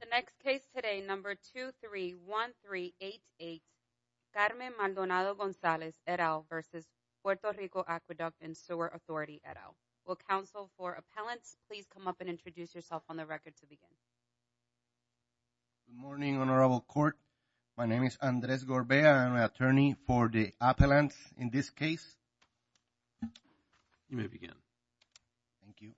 The next case today, number 231388, Carmen Maldonado-Gonzalez, et al., versus Puerto Rico Aqueduct & Sewer Authority, et al. Will counsel for appellants please come up and introduce yourself on the record to begin. Good morning, Honorable Court. My name is Andres Gorbea. I'm an attorney for the appellants in this case. You may begin. Thank you.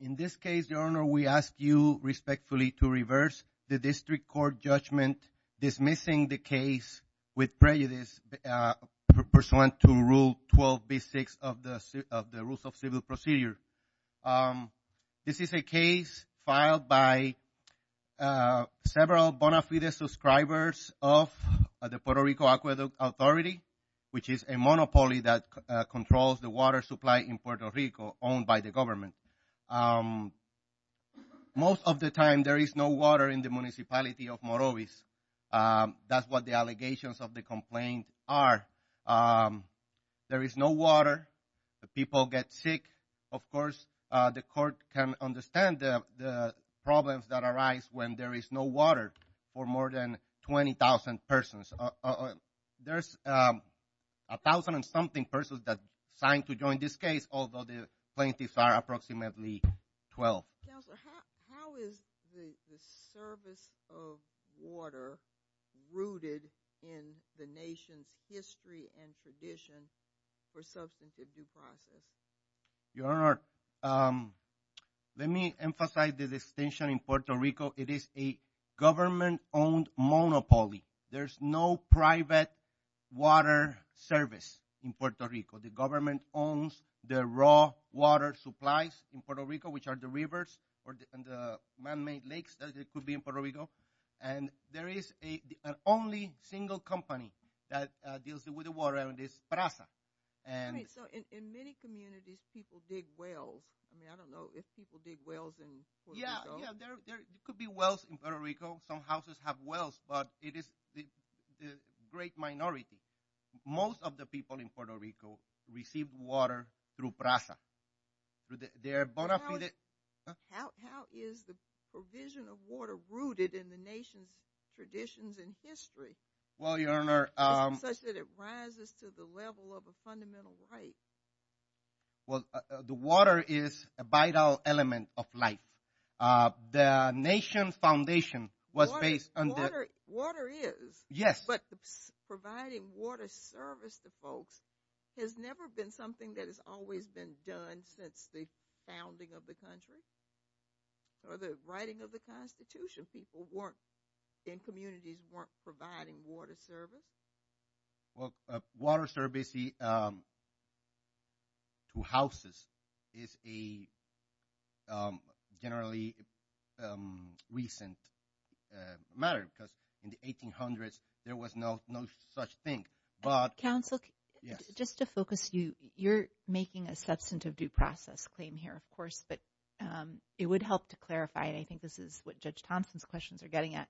In this case, Your Honor, we ask you respectfully to reverse the district court judgment dismissing the case with prejudice pursuant to Rule 12b-6 of the Rules of Civil Procedure. This is a case filed by several Bonafides subscribers of the Puerto Rico Aqueduct Authority, which is a monopoly that controls the water supply in Puerto Rico owned by the government. Most of the time there is no water in the municipality of Morovis. That's what the allegations of the complaint are. There is no water. People get sick. Of course, the court can understand the problems that arise when there is no water for more than 20,000 persons. There's a thousand and something persons that signed to join this case, although the plaintiffs are approximately 12. Counselor, how is the service of water rooted in the nation's history and tradition for substantive due process? Your Honor, let me emphasize the distinction in Puerto Rico. It is a government-owned monopoly. There's no private water service in Puerto Rico. The government owns the raw water supplies in Puerto Rico, which are the rivers and the man-made lakes that could be in Puerto Rico. There is an only single company that deals with the water, and it's Praza. In many communities, people dig wells. I don't know if people dig wells in Puerto Rico. Yeah, there could be wells in Puerto Rico. Some houses have wells, but it is the great minority. Most of the people in Puerto Rico receive water through Praza. How is the provision of water rooted in the nation's traditions and history such that it rises to the level of a fundamental right? Well, the water is a vital element of life. The nation's foundation was based on the – Water is. Yes. But providing water service to folks has never been something that has always been done since the founding of the country or the writing of the Constitution. People weren't – and communities weren't providing water service. Well, water service to houses is a generally recent matter because in the 1800s, there was no such thing, but – Counsel. Yes. Just to focus you, you're making a substantive due process claim here, of course, but it would help to clarify, and I think this is what Judge Thompson's questions are getting at.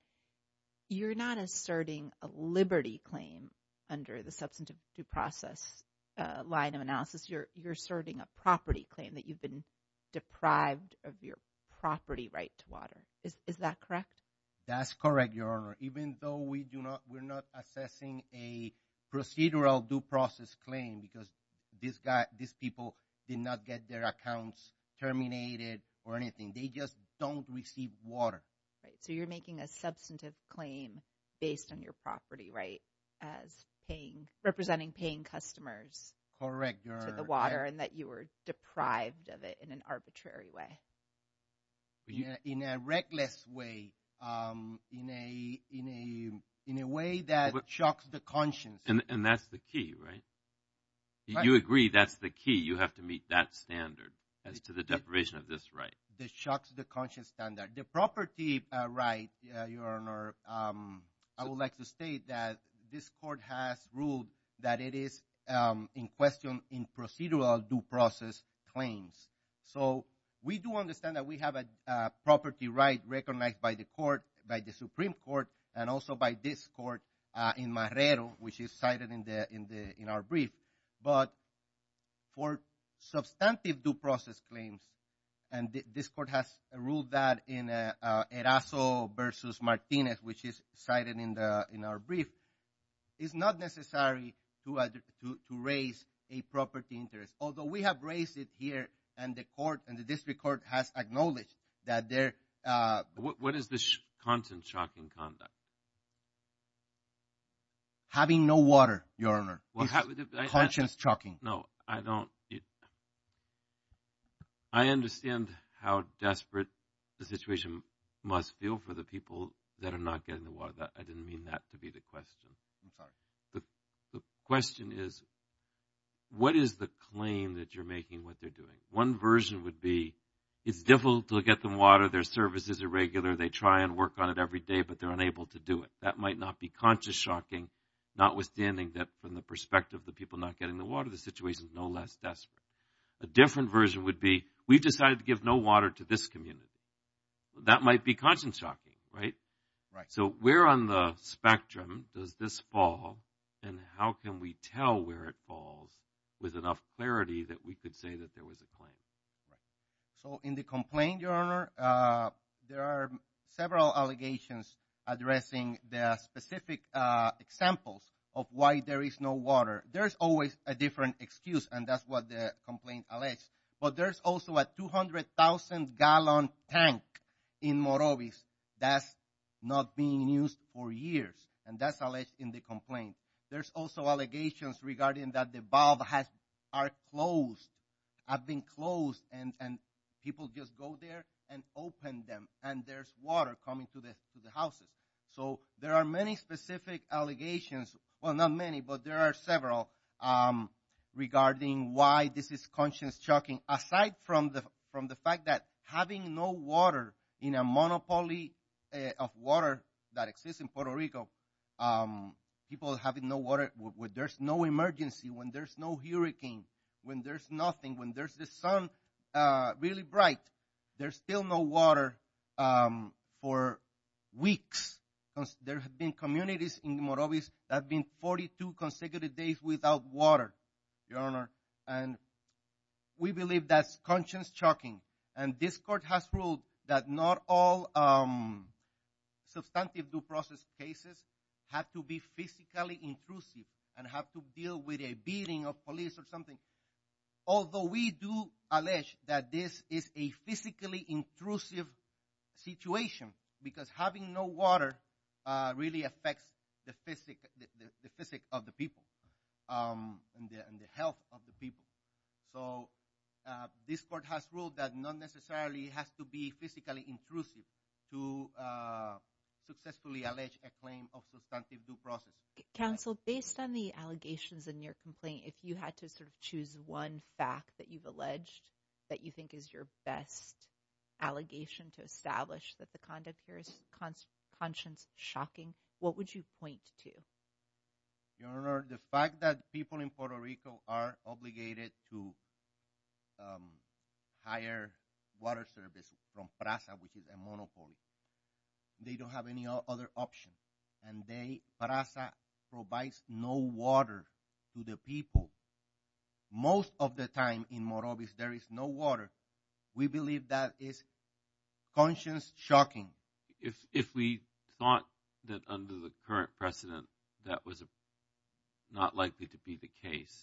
You're not asserting a liberty claim under the substantive due process line of analysis. You're asserting a property claim that you've been deprived of your property right to water. Is that correct? That's correct, Your Honor, even though we do not – we're not assessing a procedural due process claim because these people did not get their accounts terminated or anything. They just don't receive water. Right. So you're making a substantive claim based on your property right as paying – representing paying customers to the water and that you were deprived of it in an arbitrary way. In a reckless way, in a way that shocks the conscience. And that's the key, right? You agree that's the key. You have to meet that standard as to the deprivation of this right. The property right, Your Honor, I would like to state that this court has ruled that it is in question in procedural due process claims. So we do understand that we have a property right recognized by the court, by the Supreme Court, and also by this court in Marrero, which is cited in our brief. But for substantive due process claims, and this court has ruled that in Erazo v. Martinez, which is cited in our brief, it's not necessary to raise a property interest. Although we have raised it here, and the court – and the district court has acknowledged that there – What is the content of shocking conduct? Having no water, Your Honor. Conscience shocking. No, I don't – I understand how desperate the situation must feel for the people that are not getting the water. I didn't mean that to be the question. I'm sorry. The question is what is the claim that you're making what they're doing? One version would be it's difficult to get them water. Their service is irregular. They try and work on it every day, but they're unable to do it. That might not be conscience shocking, notwithstanding that from the perspective of the people not getting the water, the situation is no less desperate. A different version would be we've decided to give no water to this community. That might be conscience shocking, right? Right. So where on the spectrum does this fall, and how can we tell where it falls with enough clarity that we could say that there was a claim? So in the complaint, Your Honor, there are several allegations addressing the specific examples of why there is no water. There's always a different excuse, and that's what the complaint alleges. But there's also a 200,000-gallon tank in Morovis that's not being used for years, and that's alleged in the complaint. There's also allegations regarding that the valve has been closed, and people just go there and open them, and there's water coming to the houses. So there are many specific allegations. Well, not many, but there are several regarding why this is conscience shocking, aside from the fact that having no water in a monopoly of water that exists in Puerto Rico, people having no water when there's no emergency, when there's no hurricane, when there's nothing, when there's the sun really bright, there's still no water for weeks. There have been communities in Morovis that have been 42 consecutive days without water, Your Honor, and we believe that's conscience shocking. And this court has ruled that not all substantive due process cases have to be physically intrusive and have to deal with a beating of police or something, although we do allege that this is a physically intrusive situation because having no water really affects the physic of the people and the health of the people. So this court has ruled that not necessarily it has to be physically intrusive to successfully allege a claim of substantive due process. Counsel, based on the allegations in your complaint, if you had to sort of choose one fact that you've alleged that you think is your best allegation to establish that the conduct here is conscience shocking, what would you point to? Your Honor, the fact that people in Puerto Rico are obligated to hire water services from PRASA, which is a monopoly. They don't have any other option, and PRASA provides no water to the people. Most of the time in Morovis there is no water. We believe that is conscience shocking. If we thought that under the current precedent that was not likely to be the case.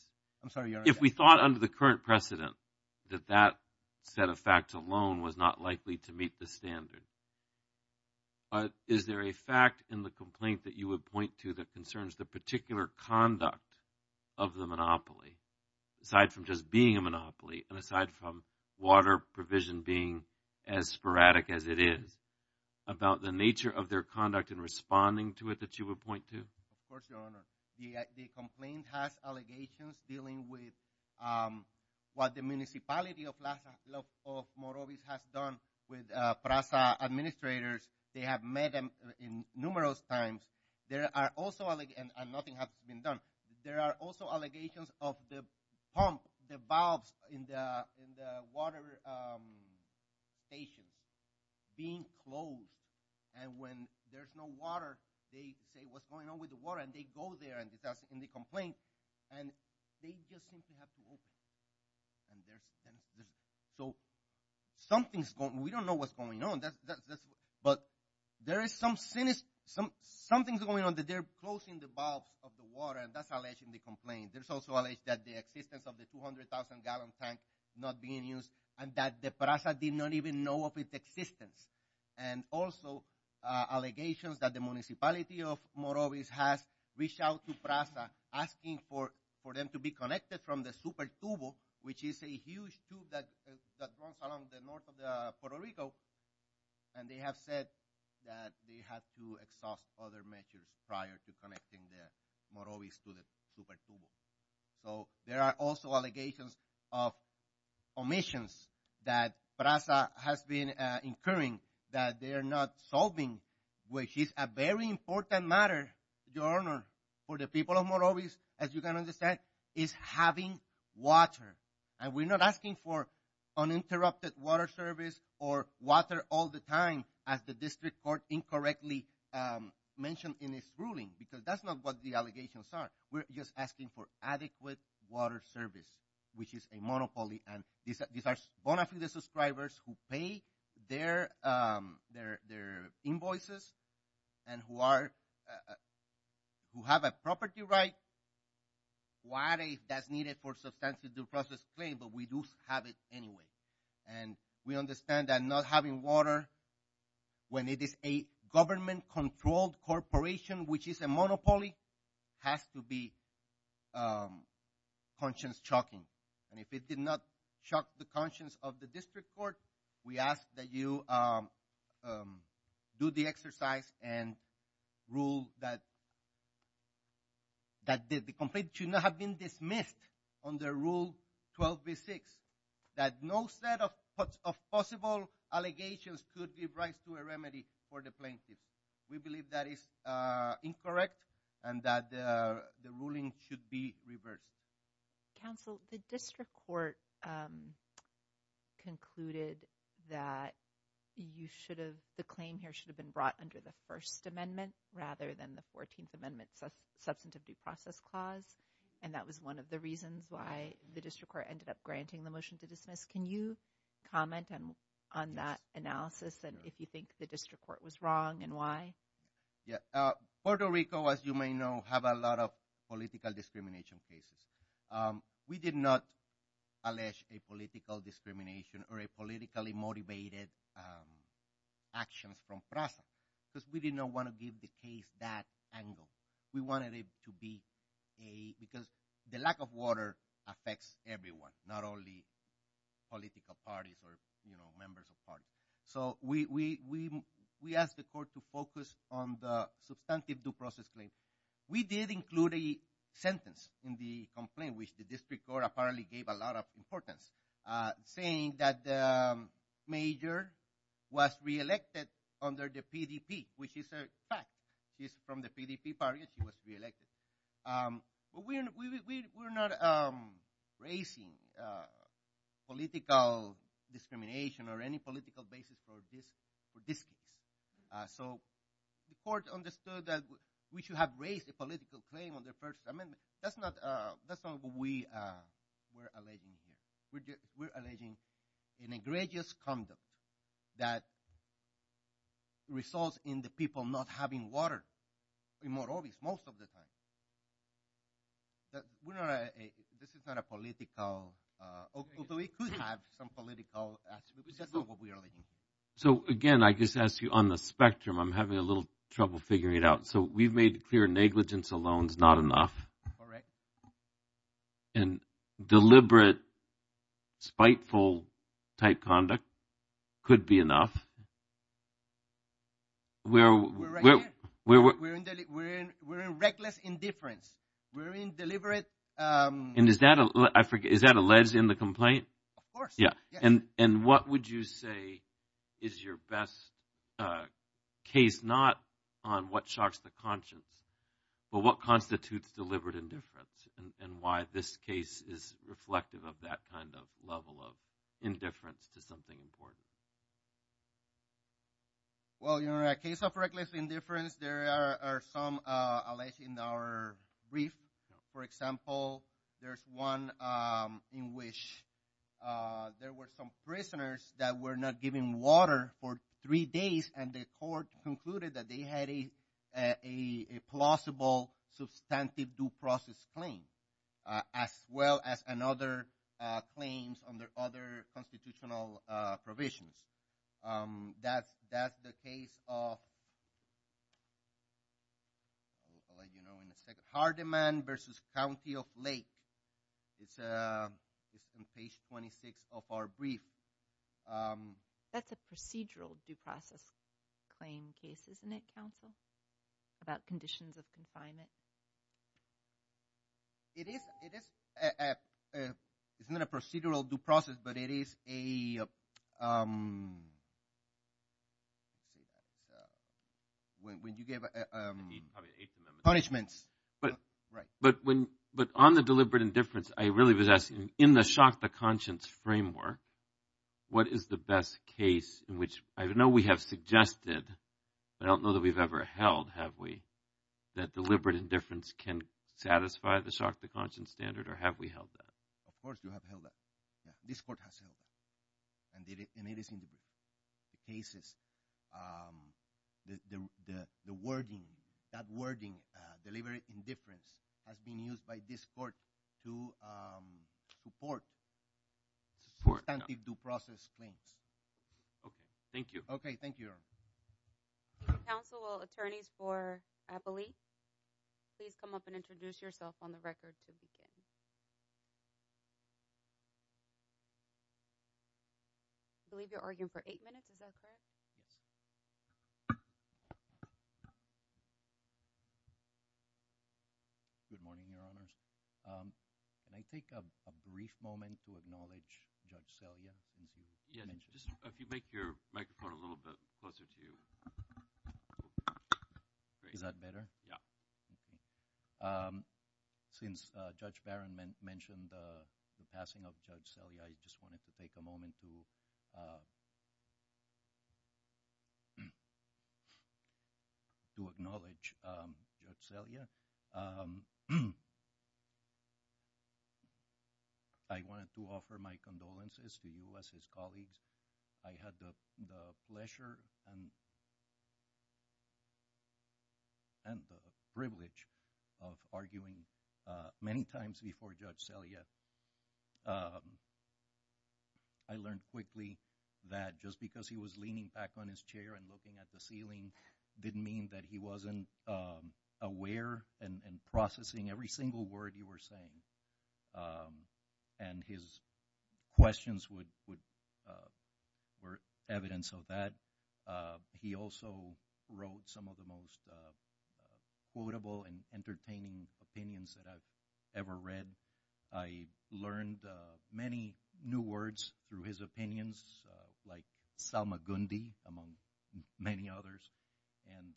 I'm sorry, Your Honor. If we thought under the current precedent that that set of facts alone was not likely to meet the standard, is there a fact in the complaint that you would point to that concerns the particular conduct of the monopoly, aside from just being a monopoly and aside from water provision being as sporadic as it is, about the nature of their conduct in responding to it that you would point to? Of course, Your Honor. The complaint has allegations dealing with what the municipality of Morovis has done with PRASA administrators. They have met them numerous times, and nothing has been done. There are also allegations of the pump, the valves in the water station being closed. And when there's no water, they say, what's going on with the water? And they go there in the complaint, and they just seem to have to open it. So something's going on. We don't know what's going on. But there is something going on that they're closing the valves of the water, and that's alleged in the complaint. There's also alleged that the existence of the 200,000-gallon tank not being used, and that the PRASA did not even know of its existence. And also allegations that the municipality of Morovis has reached out to PRASA, asking for them to be connected from the super-tube, which is a huge tube that runs along the north of Puerto Rico. And they have said that they have to exhaust other measures prior to connecting the Morovis to the super-tube. So there are also allegations of omissions that PRASA has been incurring that they are not solving, which is a very important matter, Your Honor, for the people of Morovis, as you can understand, is having water. And we're not asking for uninterrupted water service or water all the time, as the district court incorrectly mentioned in its ruling, because that's not what the allegations are. We're just asking for adequate water service, which is a monopoly, and these are bona fide subscribers who pay their invoices and who have a property right. That's needed for substantial due process claim, but we do have it anyway. And we understand that not having water, when it is a government-controlled corporation, which is a monopoly, has to be conscience-shocking. And if it did not shock the conscience of the district court, we ask that you do the exercise and rule that the complaint should not have been dismissed under Rule 12b-6, that no set of possible allegations could give rise to a remedy for the plaintiff. We believe that is incorrect and that the ruling should be reversed. Counsel, the district court concluded that the claim here should have been brought under the First Amendment rather than the Fourteenth Amendment Substantive Due Process Clause, and that was one of the reasons why the district court ended up granting the motion to dismiss. Can you comment on that analysis and if you think the district court was wrong and why? Puerto Rico, as you may know, has a lot of political discrimination cases. We did not allege a political discrimination or a politically motivated action from PRASA because we did not want to give the case that angle. We wanted it to be because the lack of water affects everyone, not only political parties or members of parties. So we asked the court to focus on the Substantive Due Process Claim. We did include a sentence in the complaint, which the district court apparently gave a lot of importance, saying that the major was re-elected under the PDP, which is a fact. She's from the PDP party. She was re-elected. We're not raising political discrimination or any political basis for dismissal. So the court understood that we should have raised a political claim under the First Amendment. That's not what we're alleging here. We're alleging a negligence conduct that results in the people not having water, more obvious most of the time. This is not a political – although it could have some political – that's not what we're alleging. So, again, I just ask you on the spectrum. I'm having a little trouble figuring it out. So we've made clear negligence alone is not enough. And deliberate spiteful-type conduct could be enough. We're right here. We're in reckless indifference. We're in deliberate – And is that – I forget. Is that alleged in the complaint? Of course. Yeah. And what would you say is your best case? Not on what shocks the conscience, but what constitutes deliberate indifference and why this case is reflective of that kind of level of indifference to something important. Well, in the case of reckless indifference, there are some alleged in our brief. For example, there's one in which there were some prisoners that were not given water for three days and the court concluded that they had a plausible substantive due process claim as well as another claim under other constitutional provisions. That's the case of – I'll let you know in a second – Hardeman versus County of Lake. It's on page 26 of our brief. That's a procedural due process claim case, isn't it, Counsel, about conditions of confinement? It is – it's not a procedural due process, but it is a – when you give punishments. But on the deliberate indifference, I really was asking, in the shock the conscience framework, what is the best case in which – I know we have suggested, but I don't know that we've ever held, have we, that deliberate indifference can satisfy the shock the conscience standard, or have we held that? Of course you have held that. This court has held that. And it is in the cases – the wording, that wording, deliberate indifference, has been used by this court to support substantive due process claims. Okay. Thank you. Okay. Thank you, Your Honor. Counsel, will attorneys for Appoli please come up and introduce yourself on the record to begin? I believe you're arguing for eight minutes. Is that correct? Yes. Good morning, Your Honors. Can I take a brief moment to acknowledge Judge Selya? If you make your microphone a little bit closer to you. Is that better? Since Judge Barron mentioned the passing of Judge Selya, I just wanted to take a moment to acknowledge Judge Selya. I wanted to offer my condolences to you as his colleagues. I had the pleasure and the privilege of arguing many times before Judge Selya. I learned quickly that just because he was leaning back on his chair and looking at the ceiling didn't mean that he wasn't aware and processing every single word you were saying. And his questions were evidence of that. He also wrote some of the most quotable and entertaining opinions that I've ever read. I learned many new words through his opinions like Salma Gundi, among many others. And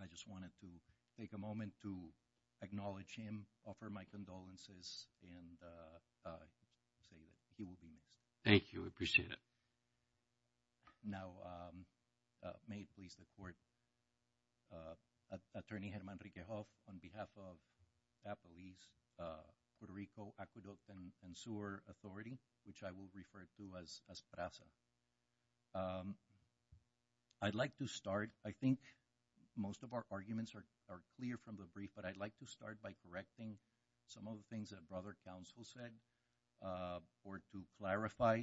I just wanted to take a moment to acknowledge him, offer my condolences, and say that he will be missed. Thank you. I appreciate it. Now may it please the court. Attorney Herman Riquejo on behalf of Apollice, Puerto Rico Aqueduct and Sewer Authority, which I will refer to as PRASA. I'd like to start, I think most of our arguments are clear from the brief, but I'd like to start by correcting some of the things that brother counsel said. Or to clarify,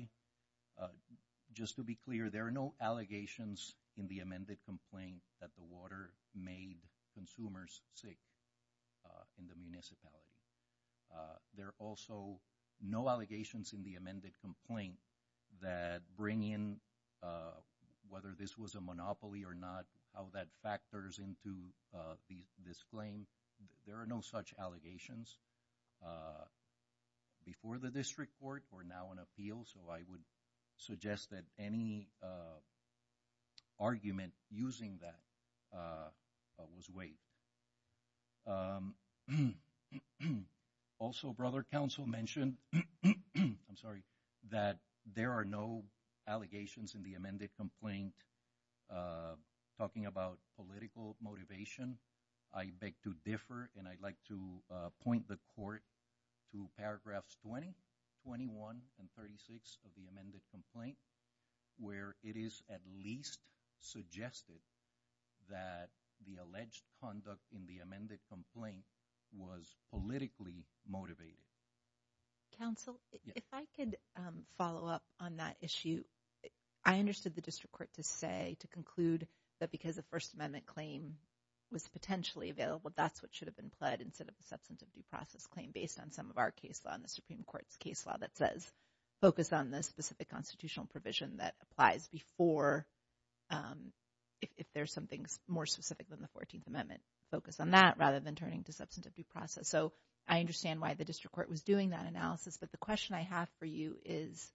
just to be clear, there are no allegations in the amended complaint that the water made consumers sick in the municipality. There are also no allegations in the amended complaint that bring in, whether this was a monopoly or not, how that factors into this claim. There are no such allegations. Before the district court, we're now in appeal, so I would suggest that any argument using that was waived. Also, brother counsel mentioned, I'm sorry, that there are no allegations in the amended complaint talking about political motivation. I beg to differ, and I'd like to point the court to paragraphs 20, 21, and 36 of the amended complaint, where it is at least suggested that the alleged conduct in the amended complaint was politically motivated. Counsel, if I could follow up on that issue, I understood the district court to say, to conclude, that because the First Amendment claim was potentially available, that's what should have been pled instead of a substantive due process claim based on some of our case law and the Supreme Court's case law that says focus on the specific constitutional provision that applies before, if there's something more specific than the 14th Amendment, focus on that rather than turning to substantive due process. So I understand why the district court was doing that analysis. But the question I have for you is,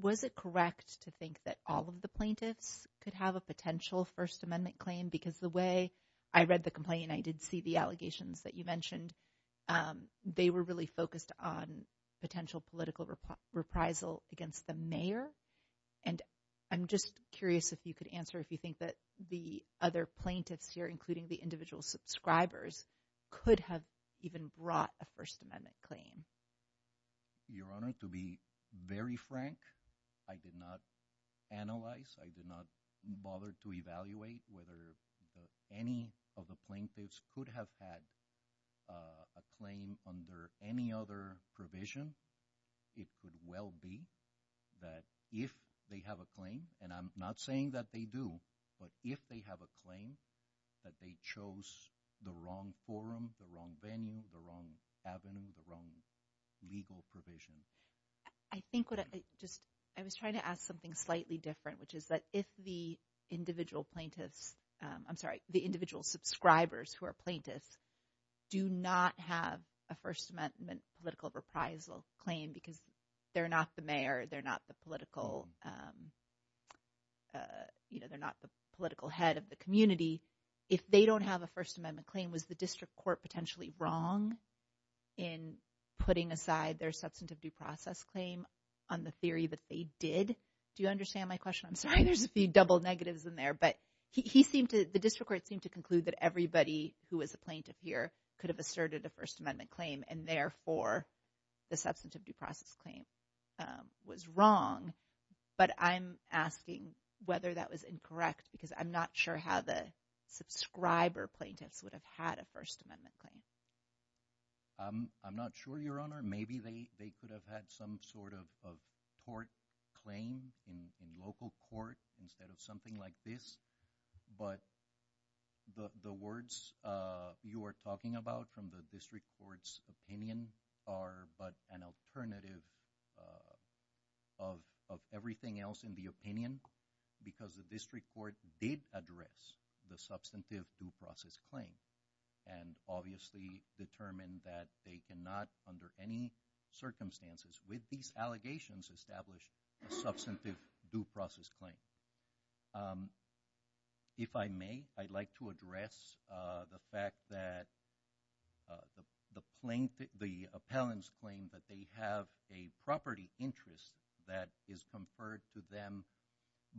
was it correct to think that all of the plaintiffs could have a potential First Amendment claim? Because the way I read the complaint, I did see the allegations that you mentioned. They were really focused on potential political reprisal against the mayor. And I'm just curious if you could answer if you think that the other plaintiffs here, including the individual subscribers, could have even brought a First Amendment claim. Your Honor, to be very frank, I did not analyze. I did not bother to evaluate whether any of the plaintiffs could have had a claim under any other provision. It could well be that if they have a claim, and I'm not saying that they do, but if they have a claim, that they chose the wrong forum, the wrong venue, the wrong avenue, the wrong legal provision. I think what I just – I was trying to ask something slightly different, which is that if the individual plaintiffs – I'm sorry, the individual subscribers who are plaintiffs do not have a First Amendment political reprisal claim because they're not the mayor, they're not the political head of the community, if they don't have a First Amendment claim, was the district court potentially wrong in putting aside their substantive due process claim on the theory that they did? Do you understand my question? I'm sorry, there's a few double negatives in there. But he seemed to – the district court seemed to conclude that everybody who was a plaintiff here could have asserted a First Amendment claim, and therefore, the substantive due process claim was wrong. But I'm asking whether that was incorrect because I'm not sure how the subscriber plaintiffs would have had a First Amendment claim. I'm not sure, Your Honor. Maybe they could have had some sort of tort claim in local court instead of something like this. But the words you are talking about from the district court's opinion are but an alternative of everything else in the opinion because the district court did address the substantive due process claim and obviously determined that they cannot, under any circumstances with these allegations, establish a substantive due process claim. If I may, I'd like to address the fact that the plaintiff – the appellant's claim that they have a property interest that is conferred to them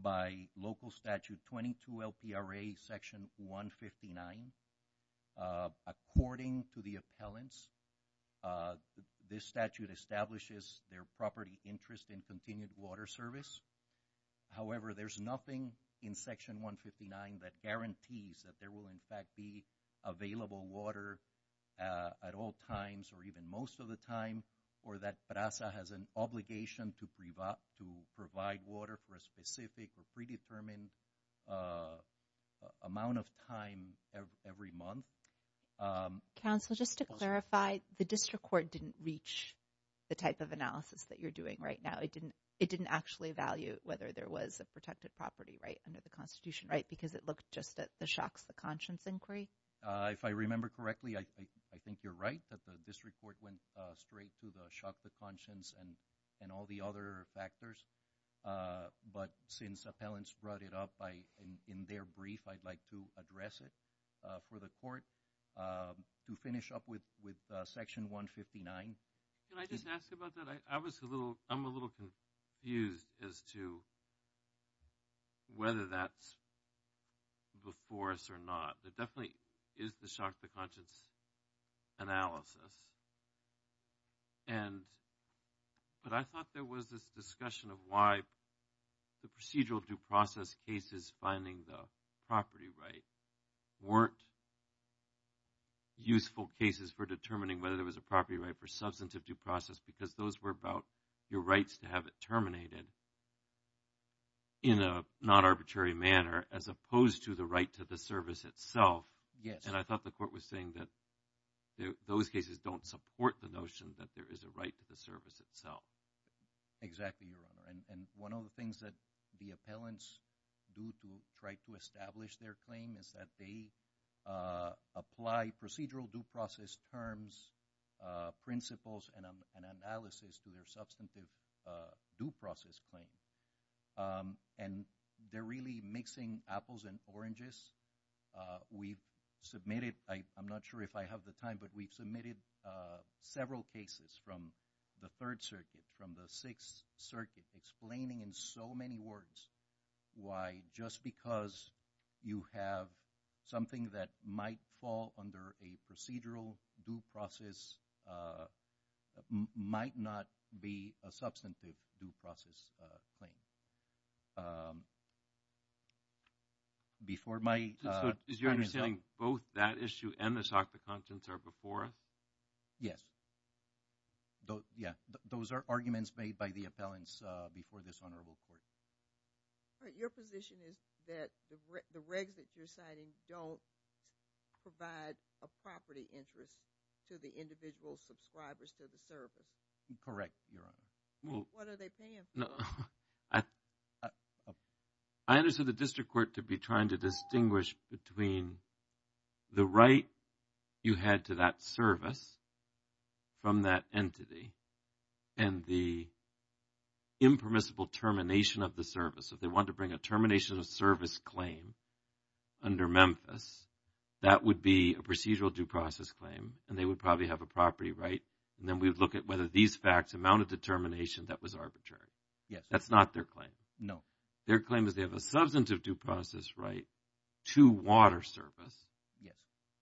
by local statute 22LPRA section 159. According to the appellants, this statute establishes their property interest in continued water service. However, there's nothing in section 159 that guarantees that there will in fact be available water at all times or even most of the time or that PRASA has an obligation to provide water for a specific or predetermined amount of time every month. Counsel, just to clarify, the district court didn't reach the type of analysis that you're doing right now. It didn't actually evaluate whether there was a protected property right under the Constitution, right, because it looked just at the shocks of the conscience inquiry? If I remember correctly, I think you're right that the district court went straight to the shock of the conscience and all the other factors, but since appellants brought it up in their brief, I'd like to address it for the court to finish up with section 159. Can I just ask about that? I'm a little confused as to whether that's the force or not. There definitely is the shock of the conscience analysis, but I thought there was this discussion of why the procedural due process cases finding the property right weren't useful cases for determining whether there was a property right for substantive due process because those were about your rights to have it terminated in a not arbitrary manner as opposed to the right to the service itself, and I thought the court was saying that those cases don't support the notion that there is a right to the service itself. Exactly, Your Honor, and one of the things that the appellants do to try to establish their claim is that they apply procedural due process terms, principles, and analysis to their substantive due process claim, and they're really mixing apples and oranges. We've submitted, I'm not sure if I have the time, but we've submitted several cases from the Third Circuit, from the Sixth Circuit, explaining in so many words why just because you have something that might fall under a procedural due process might not be a substantive due process claim. Is your understanding both that issue and the shock of the conscience are before us? Yes. Those are arguments made by the appellants before this honorable court. Your position is that the regs that you're citing don't provide a property interest to the individual subscribers to the service. Correct, Your Honor. What are they paying for? I understand the district court to be trying to distinguish between the right you had to that service from that entity and the impermissible termination of the service. If they want to bring a termination of service claim under Memphis, that would be a procedural due process claim, and they would probably have a property right, and then we would look at whether these facts amounted to termination that was arbitrary. That's not their claim. No. Their claim is they have a substantive due process right to water service,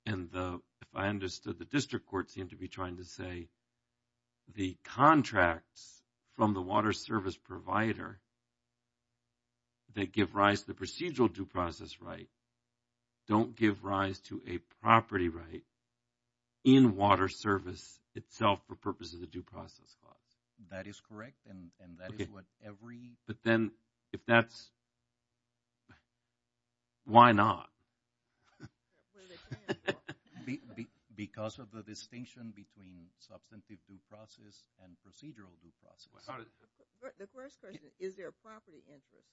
and if I understood, the district court seemed to be trying to say the contracts from the water service provider that give rise to the procedural due process right don't give rise to a property right in water service itself for purposes of due process clause. That is correct, and that is what every… But then if that's – why not? Because of the distinction between substantive due process and procedural due process. The first question, is there a property interest?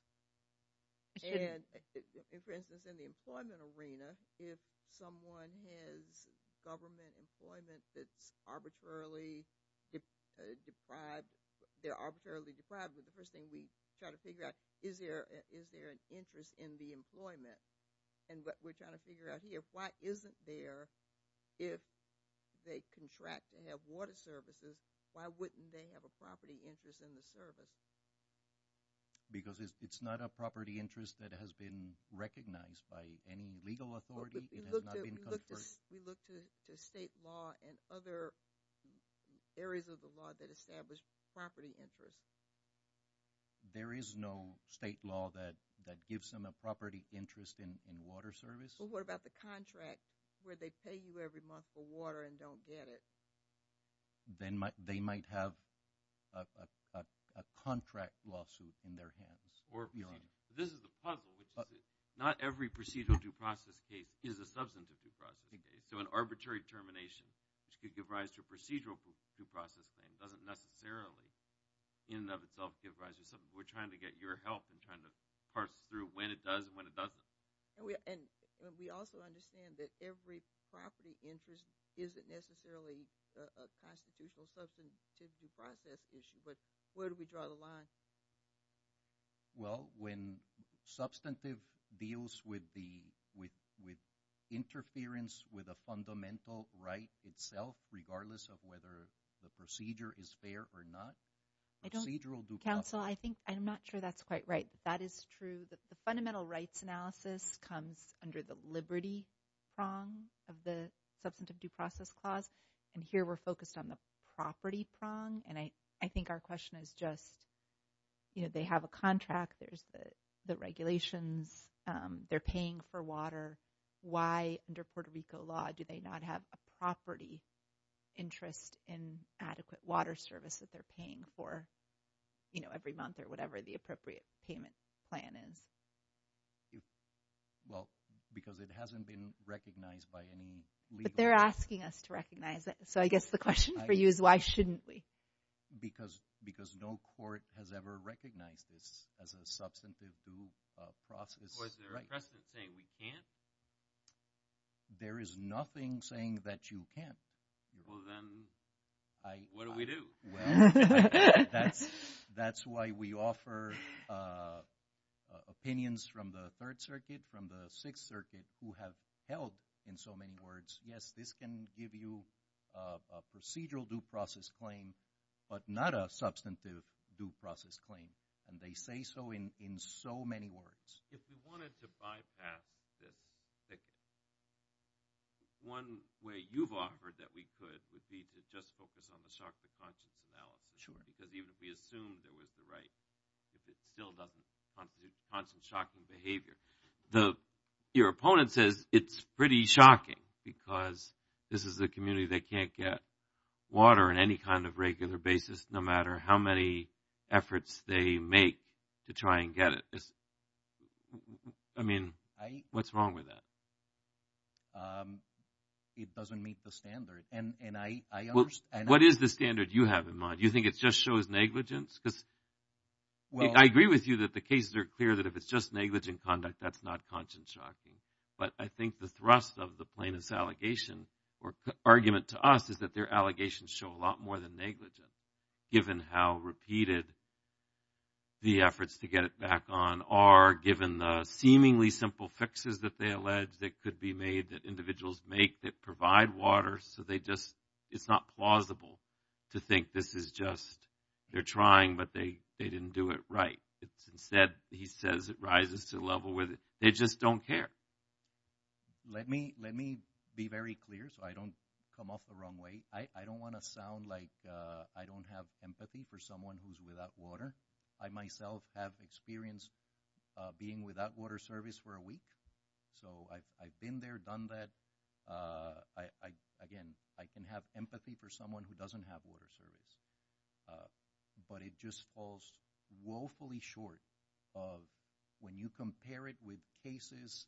And, for instance, in the employment arena, if someone has government employment that's arbitrarily deprived – trying to figure out is there an interest in the employment, and what we're trying to figure out here, why isn't there if they contract and have water services, why wouldn't they have a property interest in the service? Because it's not a property interest that has been recognized by any legal authority. We look to state law and other areas of the law that establish property interest. There is no state law that gives them a property interest in water service. Well, what about the contract where they pay you every month for water and don't get it? They might have a contract lawsuit in their hands. This is the puzzle. Not every procedural due process case is a substantive due process case. So an arbitrary termination, which could give rise to a procedural due process claim, doesn't necessarily in and of itself give rise to something. We're trying to get your help in trying to parse through when it does and when it doesn't. And we also understand that every property interest isn't necessarily a constitutional substantive due process issue, but where do we draw the line? Well, when substantive deals with interference with a fundamental right itself, regardless of whether the procedure is fair or not, procedural due process. Counsel, I'm not sure that's quite right. That is true. The fundamental rights analysis comes under the liberty prong of the substantive due process clause, and here we're focused on the property prong. And I think our question is just, you know, they have a contract. There's the regulations. They're paying for water. Why, under Puerto Rico law, do they not have a property interest in adequate water service that they're paying for, you know, every month or whatever the appropriate payment plan is? Well, because it hasn't been recognized by any legal— But they're asking us to recognize it. So I guess the question for you is why shouldn't we? Because no court has ever recognized this as a substantive due process. Was there a precedent saying we can't? There is nothing saying that you can't. Well, then what do we do? That's why we offer opinions from the Third Circuit, from the Sixth Circuit, who have held in so many words, yes, this can give you a procedural due process claim, but not a substantive due process claim. And they say so in so many words. If we wanted to bypass this, one way you've offered that we could would be to just focus on the shock to conscience analysis. Sure. Because even if we assumed there was the right, it still doesn't constitute constant shocking behavior. Your opponent says it's pretty shocking because this is a community that can't get water on any kind of regular basis, no matter how many efforts they make to try and get it. I mean, what's wrong with that? It doesn't meet the standard. What is the standard you have in mind? Do you think it just shows negligence? Because I agree with you that the cases are clear that if it's just negligent conduct, that's not conscience shocking. But I think the thrust of the plaintiff's allegation or argument to us is that their allegations show a lot more than negligence, given how repeated the efforts to get it back on are, given the seemingly simple fixes that they allege that could be made that individuals make that provide water. So it's not plausible to think this is just they're trying, but they didn't do it right. Instead, he says it rises to a level where they just don't care. Let me be very clear so I don't come off the wrong way. I don't want to sound like I don't have empathy for someone who's without water. I myself have experienced being without water service for a week. So I've been there, done that. Again, I can have empathy for someone who doesn't have water service. But it just falls woefully short of when you compare it with cases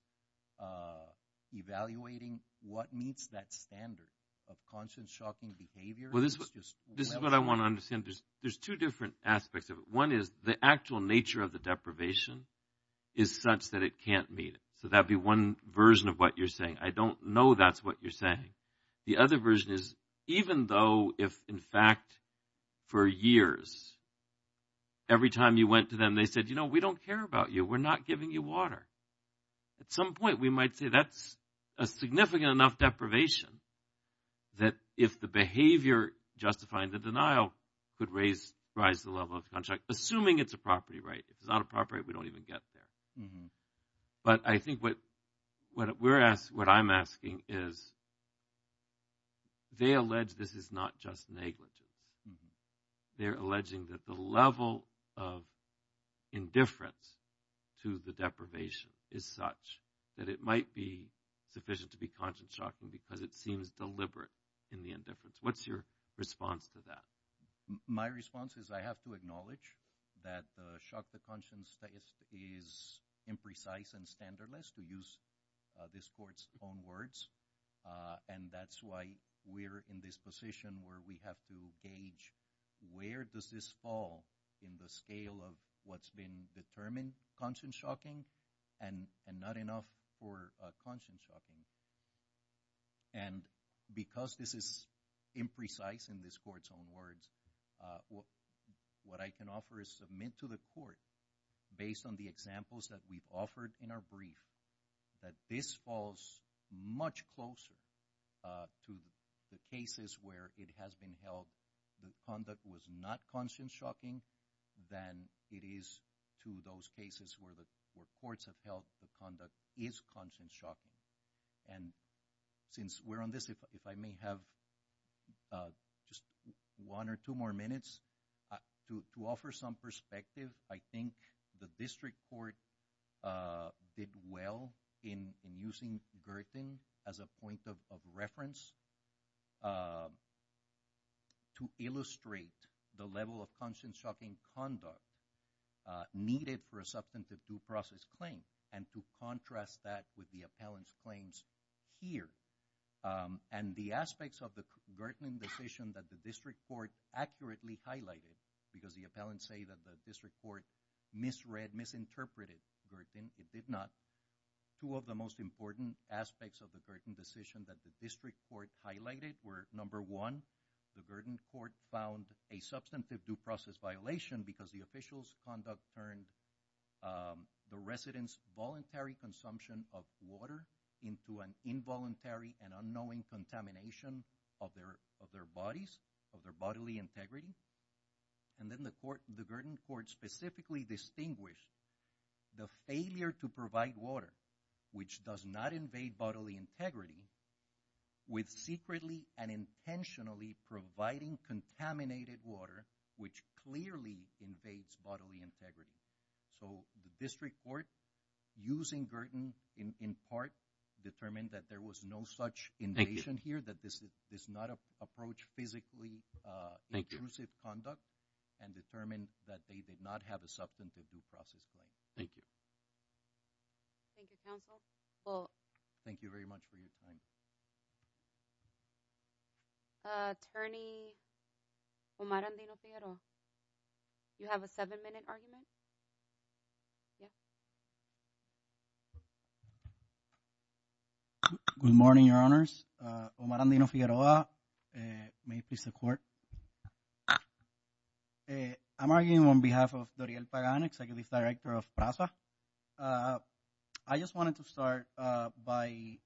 evaluating what meets that standard of conscience shocking behavior. This is what I want to understand. There's two different aspects of it. One is the actual nature of the deprivation is such that it can't meet it. So that'd be one version of what you're saying. I don't know that's what you're saying. The other version is even though if, in fact, for years, every time you went to them, they said, you know, we don't care about you. We're not giving you water. At some point, we might say that's a significant enough deprivation that if the behavior justifying the denial could raise, rise the level of contract, assuming it's a property right. If it's not a property right, we don't even get there. But I think what we're asked, what I'm asking is they allege this is not just negligence. They're alleging that the level of indifference to the deprivation is such that it might be sufficient to be conscious shocking because it seems deliberate in the indifference. What's your response to that? My response is I have to acknowledge that the shock to conscience test is imprecise and standardless to use this court's own words. And that's why we're in this position where we have to gauge where does this fall in the scale of what's been determined conscious shocking and not enough for conscious shocking. And because this is imprecise in this court's own words, what I can offer is submit to the court based on the examples that we've offered in our brief, that this falls much closer to the cases where it has been held that conduct was not conscious shocking than it is to those cases where courts have held the conduct is conscious shocking. And since we're on this, if I may have just one or two more minutes to offer some perspective. I think the district court did well in using Girton as a point of reference to illustrate the level of conscious shocking conduct needed for a substantive due process claim. And to contrast that with the appellant's claims here. And the aspects of the Girton decision that the district court accurately highlighted, because the appellants say that the district court misread, misinterpreted Girton, it did not. Two of the most important aspects of the Girton decision that the district court highlighted were number one, the Girton court found a substantive due process violation because the official's conduct turned the resident's voluntary consumption of water into an involuntary and unknowing contamination of their bodies, of their bodily integrity. And then the Girton court specifically distinguished the failure to provide water, which does not invade bodily integrity, with secretly and intentionally providing contaminated water, which clearly invades bodily integrity. So the district court, using Girton in part, determined that there was no such invasion here, that this does not approach physically intrusive conduct, and determined that they did not have a substantive due process claim. Thank you. Thank you, counsel. Thank you very much for your time. Attorney Omar Andino-Figueroa, you have a seven-minute argument. Yes. Good morning, Your Honors. Omar Andino-Figueroa. May it please the court. I'm arguing on behalf of Doriel Pagan, executive director of PRAZA. I just wanted to start by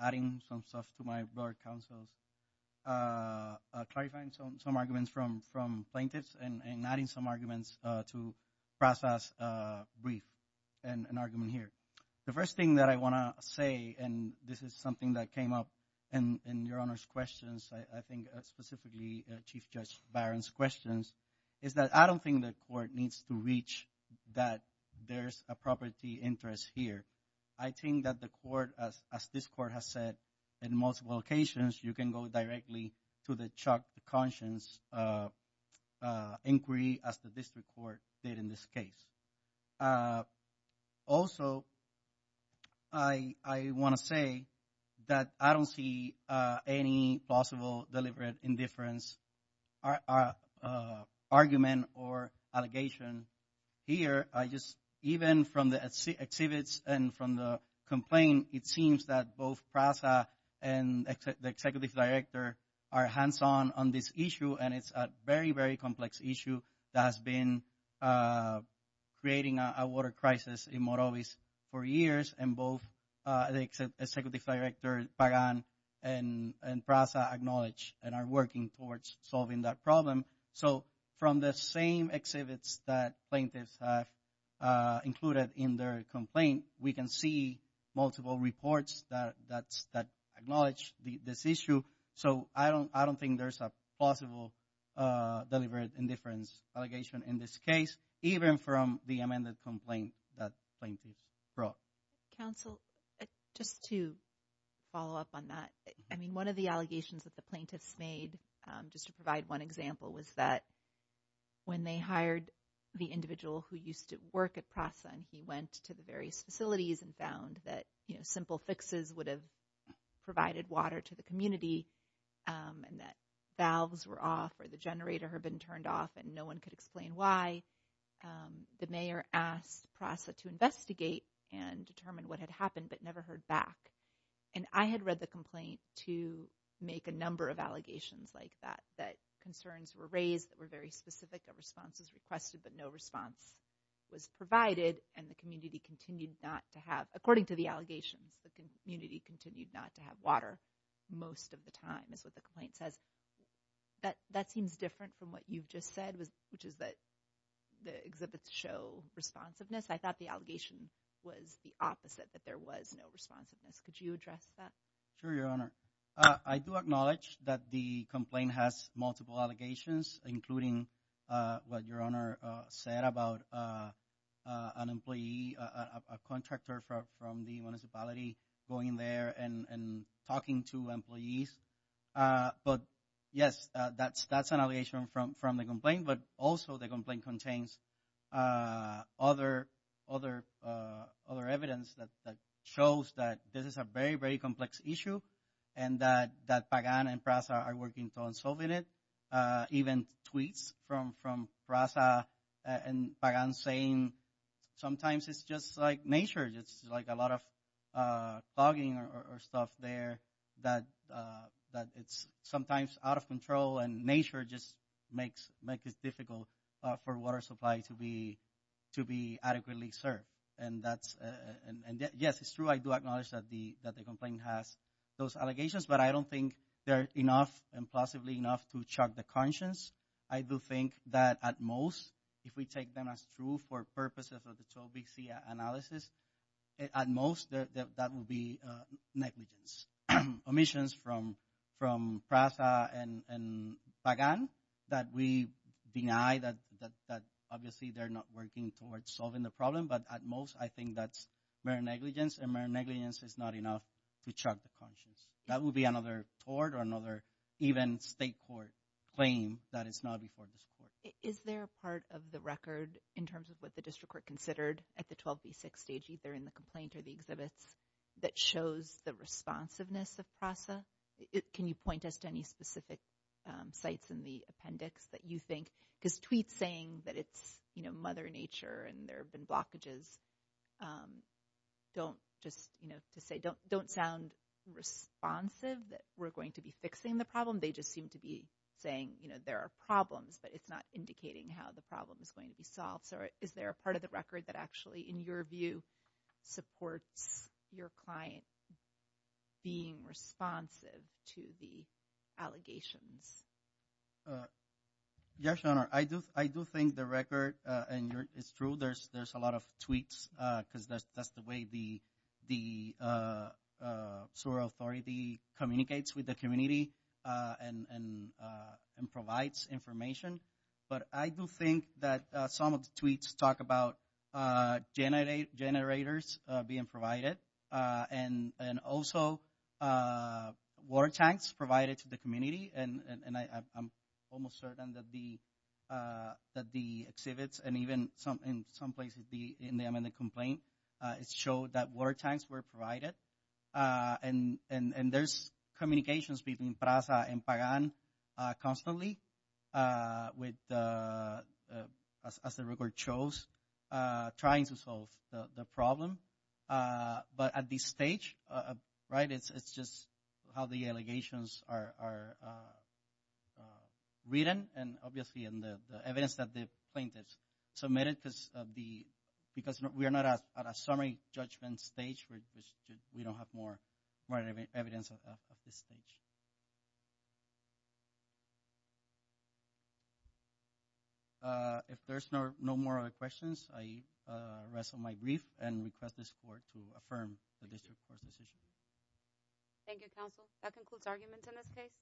adding some stuff to my board of counsels, clarifying some arguments from plaintiffs and adding some arguments to PRAZA's brief and an argument here. The first thing that I want to say, and this is something that came up in Your Honor's questions, I think specifically Chief Judge Barron's questions, is that I don't think the court needs to reach that there's a property interest here. I think that the court, as this court has said in multiple occasions, you can go directly to the Chuck Conscience inquiry, as the district court did in this case. Also, I want to say that I don't see any possible deliberate indifference argument or allegation here. I just, even from the exhibits and from the complaint, it seems that both PRAZA and the executive director are hands-on on this issue, and it's a very, very complex issue that has been creating a water crisis in Morovis for years, and both the executive director Pagan and PRAZA acknowledge and are working towards solving that problem. So, from the same exhibits that plaintiffs have included in their complaint, we can see multiple reports that acknowledge this issue. So, I don't think there's a possible deliberate indifference allegation in this case, even from the amended complaint that plaintiffs brought. Counsel, just to follow up on that, I mean, one of the allegations that the plaintiffs made, just to provide one example, was that when they hired the individual who used to work at PRAZA, and he went to the various facilities and found that simple fixes would have provided water to the community, and that valves were off, or the generator had been turned off, and no one could explain why, the mayor asked PRAZA to investigate and determine what had happened, but never heard back. And I had read the complaint to make a number of allegations like that, that concerns were raised that were very specific of responses requested, but no response was provided, and the community continued not to have, according to the allegations, the community continued not to have water most of the time, is what the complaint says. That seems different from what you've just said, which is that the exhibits show responsiveness. I thought the allegation was the opposite, that there was no responsiveness. Could you address that? Sure, Your Honor. I do acknowledge that the complaint has multiple allegations, including what Your Honor said about an employee, a contractor from the municipality, going there and talking to employees. But, yes, that's an allegation from the complaint, but also the complaint contains other evidence that shows that this is a very, very complex issue, and that PAGAN and PRAZA are working on solving it. Even tweets from PRAZA and PAGAN saying sometimes it's just like nature, it's like a lot of fogging or stuff there, that it's sometimes out of control, and nature just makes it difficult for water supply to be adequately served. And, yes, it's true, I do acknowledge that the complaint has those allegations, but I don't think they're enough and possibly enough to shock the conscience. I do think that, at most, if we take them as true for purposes of the 12BC analysis, at most, that would be negligence. Omissions from PRAZA and PAGAN that we deny that, obviously, they're not working towards solving the problem, but, at most, I think that's mere negligence, and mere negligence is not enough to shock the conscience. That would be another court or another even state court claim that it's not before this court. Is there a part of the record, in terms of what the district court considered at the 12B6 stage, either in the complaint or the exhibits, that shows the responsiveness of PRAZA? Can you point us to any specific sites in the appendix that you think, because tweets saying that it's, you know, mother nature and there have been blockages, don't just, you know, to say, don't sound responsive that we're going to be fixing the problem. They just seem to be saying, you know, there are problems, but it's not indicating how the problem is going to be solved. So, is there a part of the record that actually, in your view, supports your client being responsive to the allegations? Yes, Your Honor, I do think the record, and it's true, there's a lot of tweets, because that's the way the sewer authority communicates with the community and provides information. But I do think that some of the tweets talk about generators being provided and also water tanks provided to the community. And I'm almost certain that the exhibits and even in some places in the amended complaint, it showed that water tanks were provided. And there's communications between PRAZA and PAGAN constantly, as the record shows, trying to solve the problem. But at this stage, right, it's just how the allegations are written, and obviously in the evidence that the plaintiffs submitted, because we are not at a summary judgment stage. We don't have more evidence at this stage. If there's no more other questions, I rest on my brief and request the support to affirm the district court's decision. Thank you, counsel. That concludes arguments in this case.